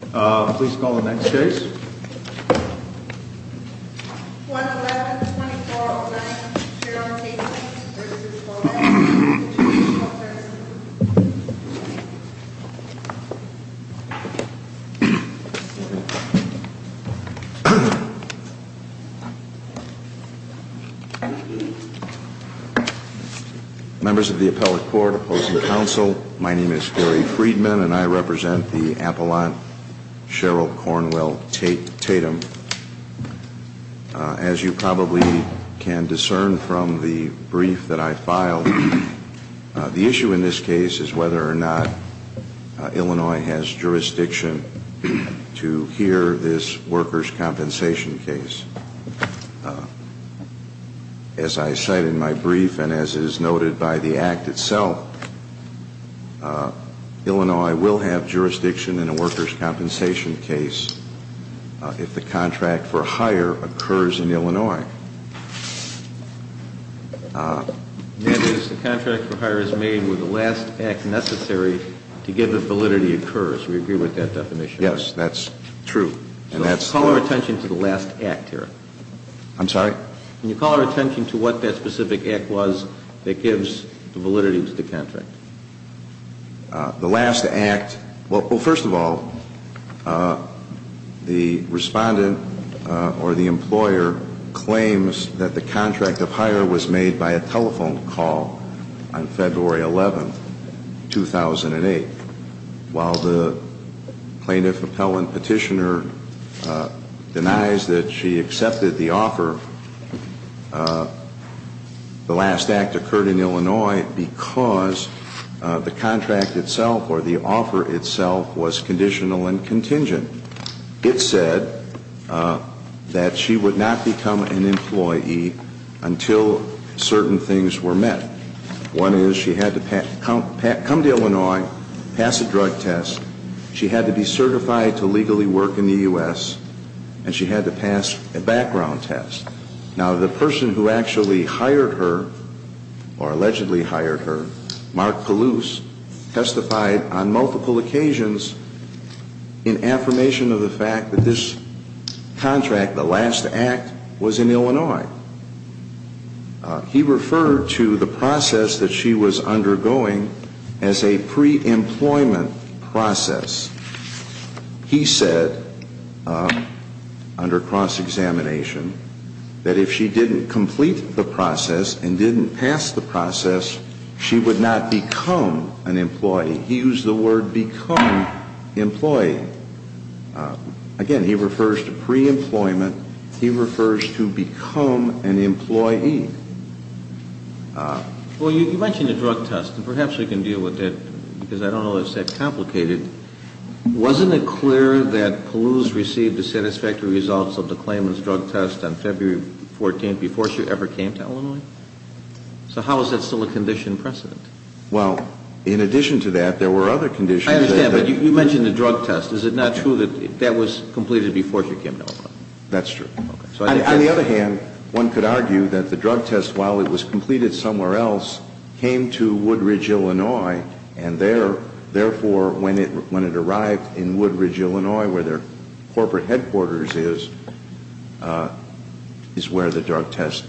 Please call the next case. Members of the Appellate Court, Opposing Counsel, My name is Gary Friedman and I represent the Appellant Cheryl Cornwell Tatum. As you probably can discern from the brief that I filed, the issue in this case is whether or not Illinois has jurisdiction to hear this workers' compensation case. As I cite in my brief and as is noted by the Act itself, Illinois will have jurisdiction in a workers' compensation case if the contract for hire occurs in Illinois. That is, the contract for hire is made when the last act necessary to give the validity occurs. We agree with that definition? Yes, that's true. Can you call our attention to the last act here? I'm sorry? Can you call our attention to what that specific act was that gives validity to the contract? The last act, well first of all, the respondent or the employer claims that the contract of hire was made by a telephone call on February 11, 2008. While the plaintiff appellant petitioner denies that she accepted the offer, the last act occurred in Illinois because the contract itself or the offer itself was conditional and contingent. It said that she would not become an employee until certain things were met. One is she had to come to Illinois, pass a drug test, she had to be certified to legally work in the U.S., and she had to pass a background test. Now the person who actually hired her, or allegedly hired her, Mark Palouse, testified on multiple occasions in affirmation of the fact that this contract, the last act, was in Illinois. He referred to the process that she was undergoing as a pre-employment process. He said, under cross-examination, that if she didn't complete the process and didn't pass the process, she would not become an employee. He used the word become employee. Again, he refers to pre-employment. He refers to become an employee. Well, you mentioned a drug test, and perhaps we can deal with it because I don't know if it's that complicated. Wasn't it clear that Palouse received the satisfactory results of the claimant's drug test on February 14th before she ever came to Illinois? So how is that still a condition precedent? Well, in addition to that, there were other conditions. I understand, but you mentioned the drug test. Is it not true that that was completed before she came to Illinois? That's true. On the other hand, one could argue that the drug test, while it was completed somewhere else, came to Woodridge, Illinois, and therefore, when it arrived in Woodridge, Illinois, where their corporate headquarters is, is where the drug test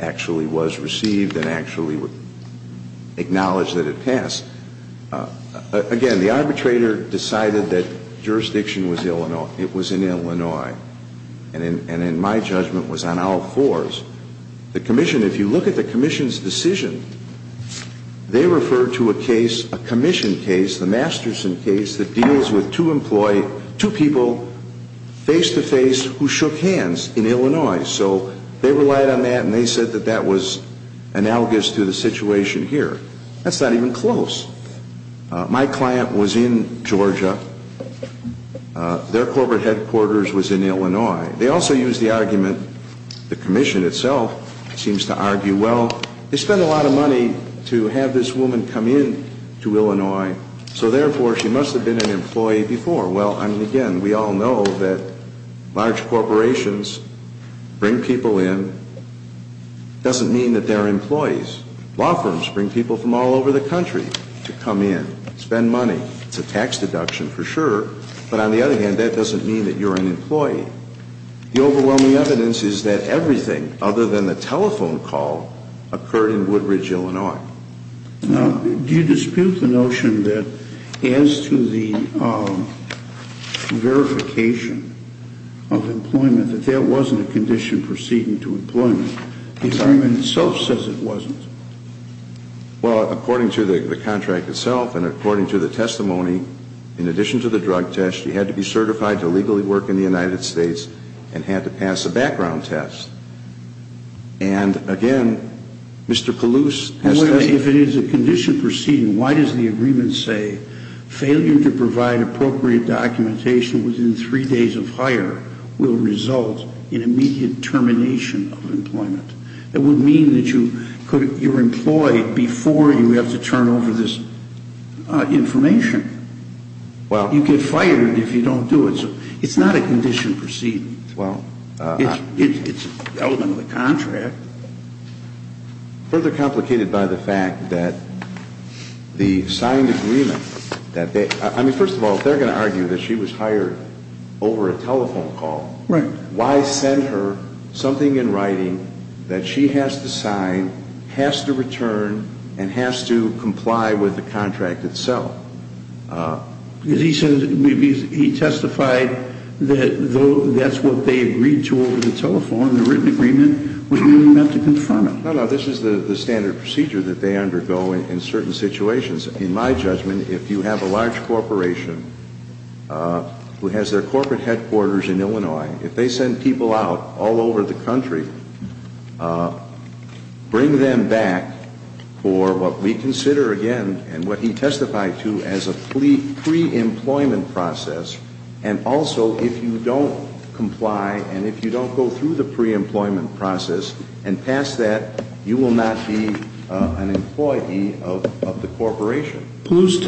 actually was received and actually acknowledged that it passed. Again, the arbitrator decided that jurisdiction was Illinois. It was in Illinois. And in my judgment, it was on all fours. The commission, if you look at the commission's decision, they referred to a case, a commission case, the Masterson case, that deals with two people face-to-face who shook hands in Illinois. So they relied on that, and they said that that was analogous to the situation here. That's not even close. My client was in Georgia. Their corporate headquarters was in Illinois. They also used the argument, the commission itself seems to argue, well, they spend a lot of money to have this woman come in to Illinois, so therefore, she must have been an employee before. Well, I mean, again, we all know that large corporations bring people in. It doesn't mean that they're employees. Law firms bring people from all over the country to come in, spend money. It's a tax deduction for sure, but on the other hand, that doesn't mean that you're an employee. The overwhelming evidence is that everything other than the telephone call occurred in Woodridge, Illinois. Now, do you dispute the notion that as to the verification of employment, that there wasn't a condition proceeding to employment? The argument itself says it wasn't. Well, according to the contract itself and according to the testimony, in addition to the drug test, you had to be certified to legally work in the United States and had to pass a background test. And, again, Mr. Palouse has testified. If it is a condition proceeding, why does the agreement say failure to provide appropriate documentation within three days of hire will result in immediate termination of employment? It would mean that you're employed before you have to turn over this information. You get fired if you don't do it. It's not a condition proceeding. It's an element of the contract. Further complicated by the fact that the signed agreement that they – I mean, first of all, if they're going to argue that she was hired over a telephone call, why send her something in writing that she has to sign, has to return, and has to comply with the contract itself? Because he says – he testified that that's what they agreed to over the telephone. The written agreement was really meant to confirm it. No, no. This is the standard procedure that they undergo in certain situations. In my judgment, if you have a large corporation who has their corporate headquarters in Illinois, if they send people out all over the country, bring them back for what we consider, again, and what he testified to as a pre-employment process, and also if you don't comply and if you don't go through the pre-employment process and pass that, you will not be an employee of the corporation. Palouse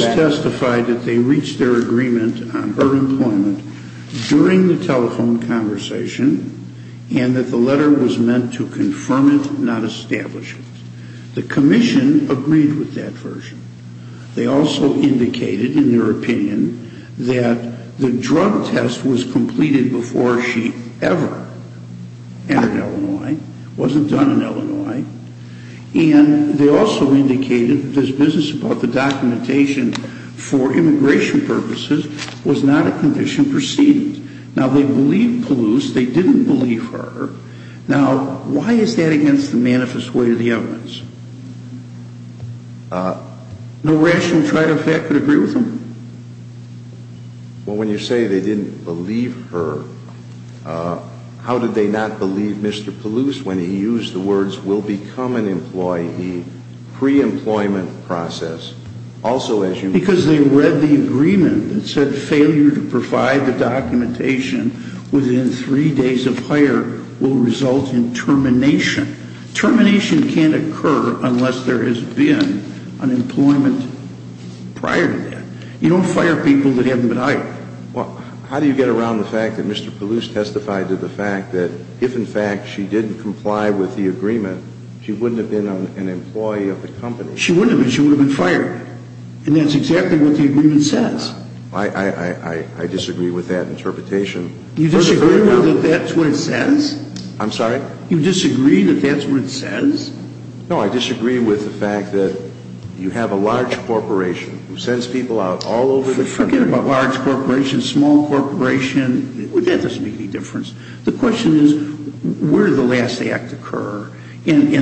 testified that they reached their agreement on her employment during the telephone conversation and that the letter was meant to confirm it, not establish it. The commission agreed with that version. They also indicated in their opinion that the drug test was completed before she ever entered Illinois, wasn't done in Illinois, and they also indicated that this business about the documentation for immigration purposes was not a condition preceded. Now, they believed Palouse. They didn't believe her. Now, why is that against the manifest way of the evidence? No rational side effect would agree with them. Well, when you say they didn't believe her, how did they not believe Mr. Palouse when he used the words will become an employee pre-employment process? Because they read the agreement that said failure to provide the documentation within three days of hire will result in termination. Termination can't occur unless there has been unemployment prior to that. You don't fire people that haven't been hired. Well, how do you get around the fact that Mr. Palouse testified to the fact that if, in fact, she didn't comply with the agreement, she wouldn't have been an employee of the company? She wouldn't have been. She would have been fired. And that's exactly what the agreement says. I disagree with that interpretation. You disagree that that's what it says? I'm sorry? You disagree that that's what it says? No, I disagree with the fact that you have a large corporation who sends people out all over the country. Forget about large corporations, small corporations. That doesn't make any difference. The question is where did the last act occur? And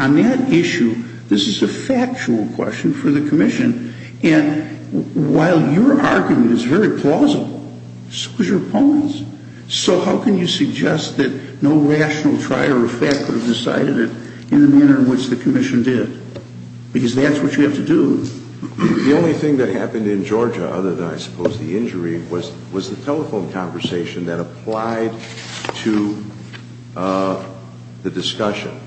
on that issue, this is a factual question for the commission. And while your argument is very plausible, so is your opponent's. So how can you suggest that no rational try or effect would have decided it in the manner in which the commission did? Because that's what you have to do. The only thing that happened in Georgia, other than I suppose the injury, was the telephone conversation that applied to the discussion.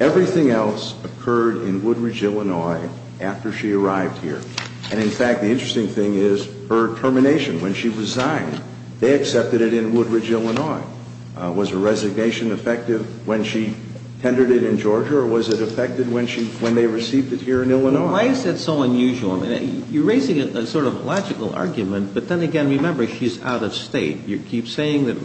Everything else occurred in Woodridge, Illinois, after she arrived here. And, in fact, the interesting thing is her termination. When she resigned, they accepted it in Woodridge, Illinois. Was her resignation effective when she tendered it in Georgia, or was it effective when they received it here in Illinois? Why is that so unusual? You're raising a sort of logical argument, but then again, remember, she's out of State. You keep saying that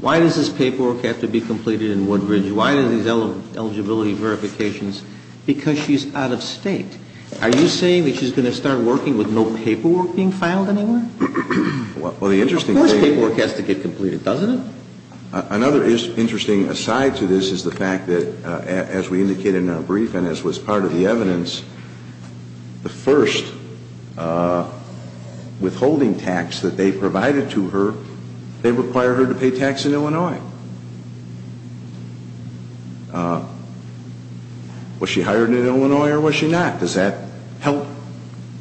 why does this paperwork have to be completed in Woodridge? Why do these eligibility verifications? Because she's out of State. Are you saying that she's going to start working with no paperwork being filed anywhere? Of course paperwork has to get completed, doesn't it? Another interesting aside to this is the fact that, as we indicated in our brief and as was part of the evidence, the first withholding tax that they provided to her, they require her to pay tax in Illinois. Now, was she hired in Illinois or was she not? Does that help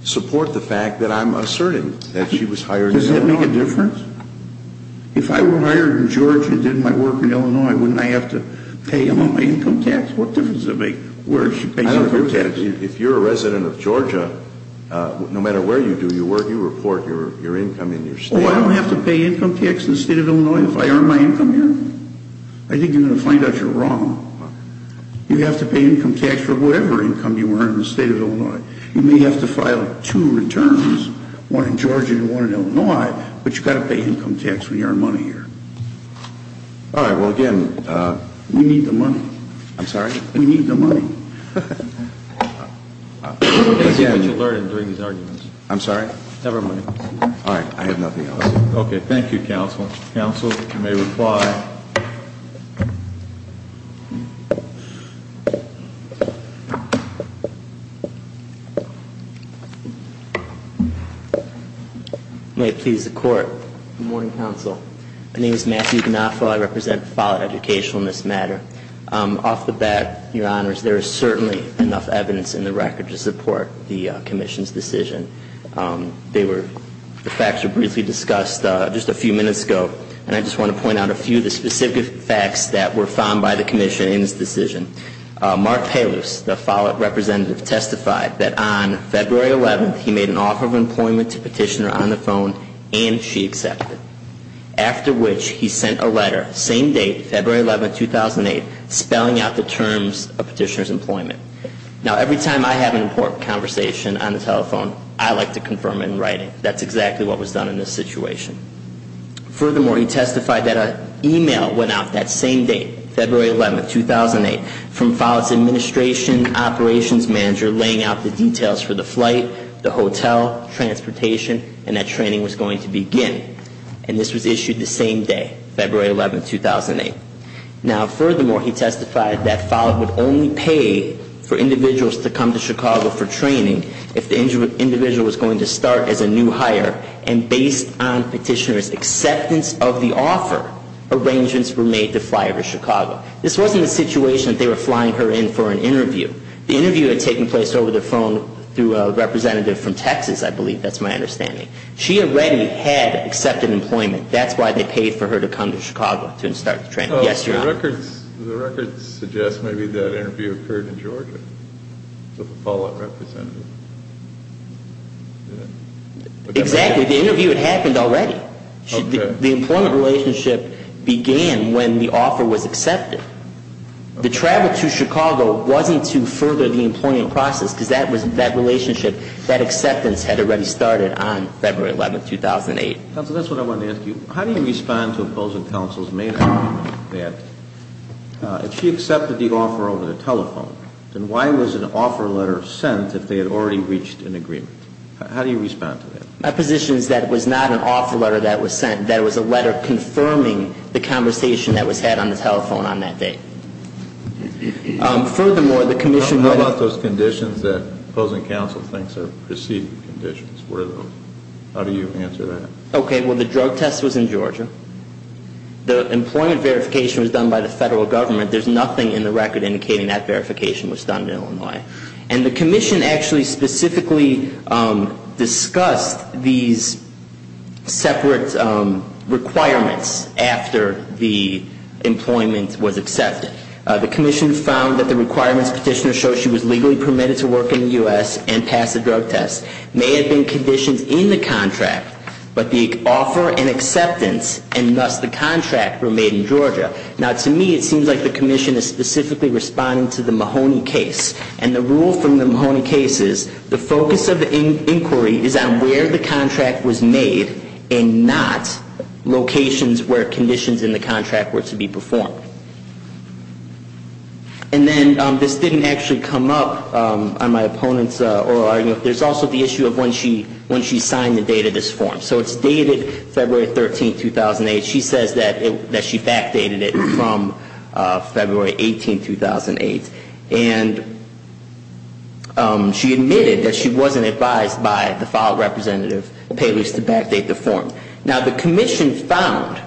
support the fact that I'm asserting that she was hired in Illinois? Does that make a difference? If I were hired in Georgia and did my work in Illinois, wouldn't I have to pay all my income tax? What difference does it make where she pays income tax? I don't understand. If you're a resident of Georgia, no matter where you do your work, you report your income in your State office. Oh, I don't have to pay income tax in the State of Illinois if I earn my income here? I think you're going to find out you're wrong. You have to pay income tax for whatever income you earn in the State of Illinois. You may have to file two returns, one in Georgia and one in Illinois, but you've got to pay income tax when you earn money here. All right. Well, again, we need the money. I'm sorry? We need the money. What did you learn during these arguments? I'm sorry? Never mind. All right. I have nothing else. Okay. Thank you, counsel. Counsel, you may reply. May it please the Court. Good morning, counsel. My name is Matthew Gnafo. I represent the file of educational in this matter. Off the bat, Your Honors, there is certainly enough evidence in the record to support the commission's decision. The facts were briefly discussed just a few minutes ago, and I just want to point out a few of the specific facts that were found by the commission in this decision. Mark Palouse, the follow-up representative, testified that on February 11th, he made an offer of employment to Petitioner on the phone and she accepted, after which he sent a letter, same date, February 11, 2008, spelling out the terms of Petitioner's employment. Now, every time I have an important conversation on the telephone, I like to confirm it in writing. That's exactly what was done in this situation. Furthermore, he testified that an email went out that same date, February 11, 2008, from Follett's administration operations manager laying out the details for the flight, the hotel, transportation, and that training was going to begin. And this was issued the same day, February 11, 2008. Now, furthermore, he testified that Follett would only pay for individuals to come to Chicago for training if the individual was going to start as a new hire. And based on Petitioner's acceptance of the offer, arrangements were made to fly her to Chicago. This wasn't a situation that they were flying her in for an interview. The interview had taken place over the phone through a representative from Texas, I believe. That's my understanding. She already had accepted employment. That's why they paid for her to come to Chicago to start the training. Yes, Your Honor. The records suggest maybe that interview occurred in Georgia with a Follett representative. Exactly. The interview had happened already. The employment relationship began when the offer was accepted. The travel to Chicago wasn't to further the employment process because that relationship, that acceptance had already started on February 11, 2008. Counsel, that's what I wanted to ask you. How do you respond to opposing counsel's main argument that if she accepted the offer over the telephone, then why was an offer letter sent if they had already reached an agreement? How do you respond to that? My position is that it was not an offer letter that was sent. That it was a letter confirming the conversation that was had on the telephone on that day. Furthermore, the commission would have- How about those conditions that opposing counsel thinks are preceding conditions? How do you answer that? Okay. Well, the drug test was in Georgia. The employment verification was done by the federal government. There's nothing in the record indicating that verification was done in Illinois. And the commission actually specifically discussed these separate requirements after the employment was accepted. The commission found that the requirements petitioner showed she was legally permitted to work in the U.S. and pass a drug test. May have been conditions in the contract, but the offer and acceptance and thus the contract were made in Georgia. Now, to me, it seems like the commission is specifically responding to the Mahoney case. And the rule from the Mahoney case is the focus of the inquiry is on where the contract was made and not locations where conditions in the contract were to be performed. And then this didn't actually come up on my opponent's oral argument. There's also the issue of when she signed the date of this form. So it's dated February 13, 2008. She says that she backdated it from February 18, 2008. And she admitted that she wasn't advised by the filed representative to backdate the form. Now, the commission found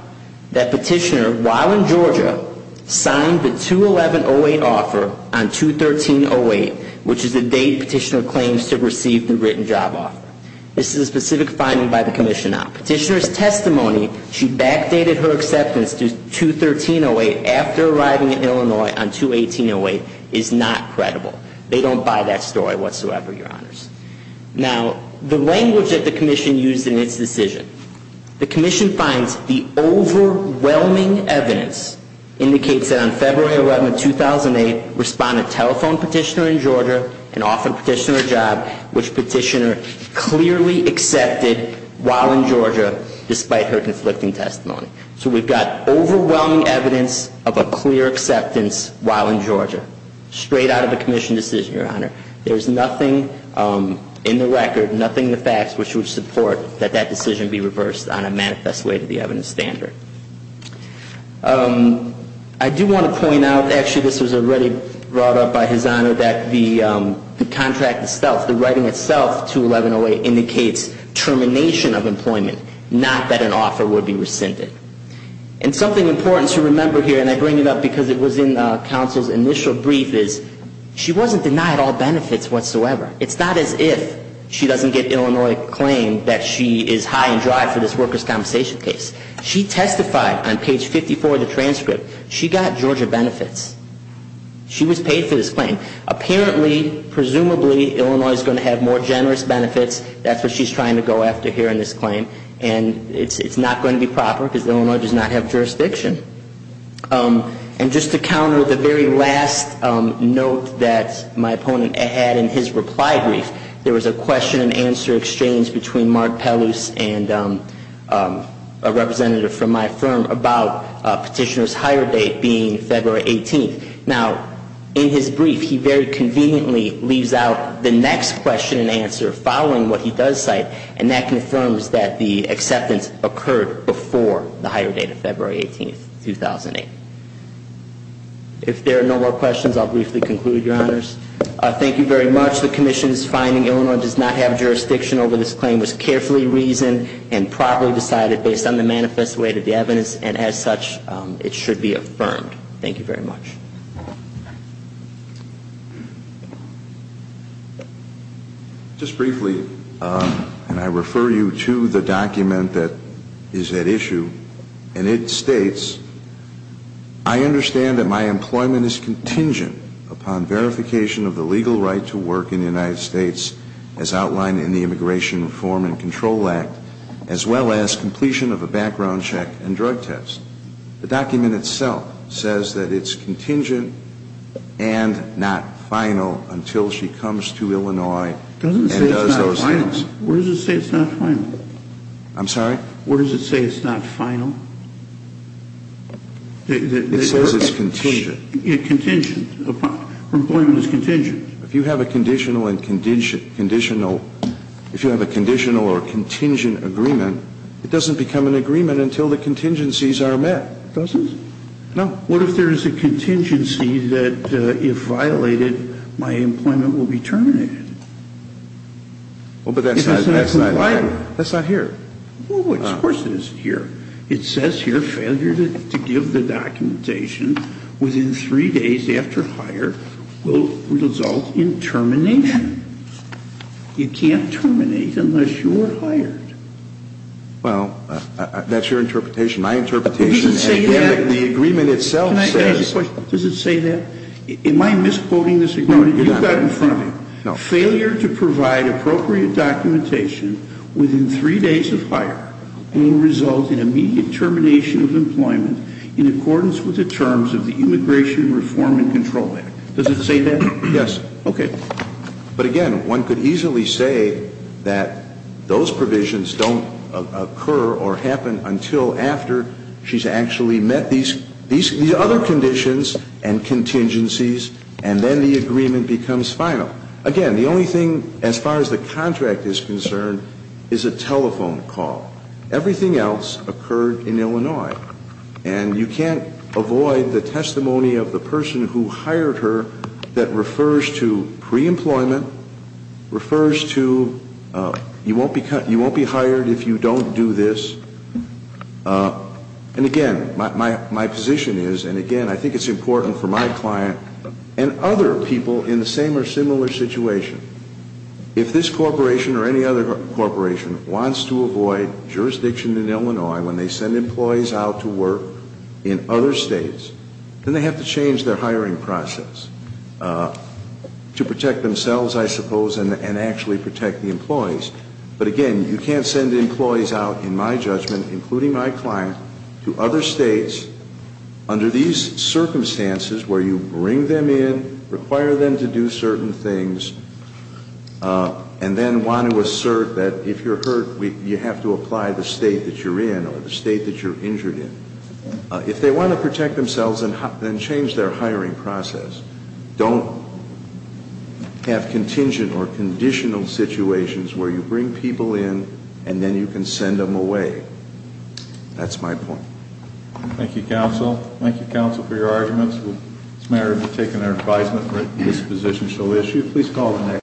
that petitioner, while in Georgia, signed the 211-08 offer on 213-08, which is the date petitioner claims to have received the written job offer. This is a specific finding by the commission now. Petitioner's testimony, she backdated her acceptance to 213-08 after arriving in Illinois on 218-08 is not credible. They don't buy that story whatsoever, Your Honors. Now, the language that the commission used in its decision. The commission finds the overwhelming evidence indicates that on February 11, 2008, respondent telephoned petitioner in Georgia and offered petitioner a job, which petitioner clearly accepted while in Georgia, despite her conflicting testimony. So we've got overwhelming evidence of a clear acceptance while in Georgia, straight out of the commission decision, Your Honor. There's nothing in the record, nothing in the facts, which would support that that decision be reversed on a manifest way to the evidence standard. I do want to point out, actually, this was already brought up by His Honor, that the contract itself, the writing itself, 211-08, indicates termination of employment, not that an offer would be rescinded. And something important to remember here, and I bring it up because it was in counsel's initial brief, is she wasn't denied all benefits whatsoever. It's not as if she doesn't get Illinois claim that she is high and dry for this worker's compensation case. She testified on page 54 of the transcript. She got Georgia benefits. She was paid for this claim. Apparently, presumably, Illinois is going to have more generous benefits. That's what she's trying to go after here in this claim. And it's not going to be proper because Illinois does not have jurisdiction. And just to counter the very last note that my opponent had in his reply brief, there was a question and answer exchange between Mark Pellouse and a representative from my firm about petitioner's hire date being February 18th. Now, in his brief, he very conveniently leaves out the next question and answer following what he does cite, and that confirms that the acceptance occurred before the hire date of February 18th, 2008. If there are no more questions, I'll briefly conclude, Your Honors. Thank you very much. The commission is finding Illinois does not have jurisdiction over this claim, was carefully reasoned and properly decided based on the manifest weight of the evidence, and as such, it should be affirmed. Thank you very much. Just briefly, and I refer you to the document that is at issue, and it states, I understand that my employment is contingent upon verification of the legal right to work in the United States as outlined in the Immigration Reform and Control Act, as well as completion of a background check and drug test. The document itself says that it's contingent and not final until she comes to Illinois and does those things. It doesn't say it's not final. Where does it say it's not final? I'm sorry? Where does it say it's not final? It says it's contingent. Yeah, contingent. Employment is contingent. If you have a conditional or contingent agreement, it doesn't become an agreement until the contingencies are met. It doesn't? No. What if there is a contingency that if violated, my employment will be terminated? Well, but that's not here. Well, of course it isn't here. It says here failure to give the documentation within three days after hire will result in termination. You can't terminate unless you are hired. Well, that's your interpretation. My interpretation is that the agreement itself says. Can I ask a question? Does it say that? Am I misquoting this agreement? No, you're not. Failure to provide appropriate documentation within three days of hire will result in immediate termination of employment in accordance with the terms of the Immigration Reform and Control Act. Does it say that? Yes. Okay. But again, one could easily say that those provisions don't occur or happen until after she's actually met these other conditions and then the agreement becomes final. Again, the only thing as far as the contract is concerned is a telephone call. Everything else occurred in Illinois. And you can't avoid the testimony of the person who hired her that refers to pre-employment, refers to you won't be hired if you don't do this. And again, my position is, and again, I think it's important for my client and other people in the same or similar situation, if this corporation or any other corporation wants to avoid jurisdiction in Illinois when they send employees out to work in other states, then they have to change their hiring process to protect themselves, I suppose, and actually protect the employees. But again, you can't send employees out, in my judgment, including my client, to other states under these circumstances where you bring them in, require them to do certain things, and then want to assert that if you're hurt you have to apply the state that you're in or the state that you're injured in. If they want to protect themselves, then change their hiring process. Don't have contingent or conditional situations where you bring people in and then you can send them away. That's my point. Thank you, counsel. Thank you, counsel, for your arguments. As a matter of taking our advisement, this position shall issue. Please call the next.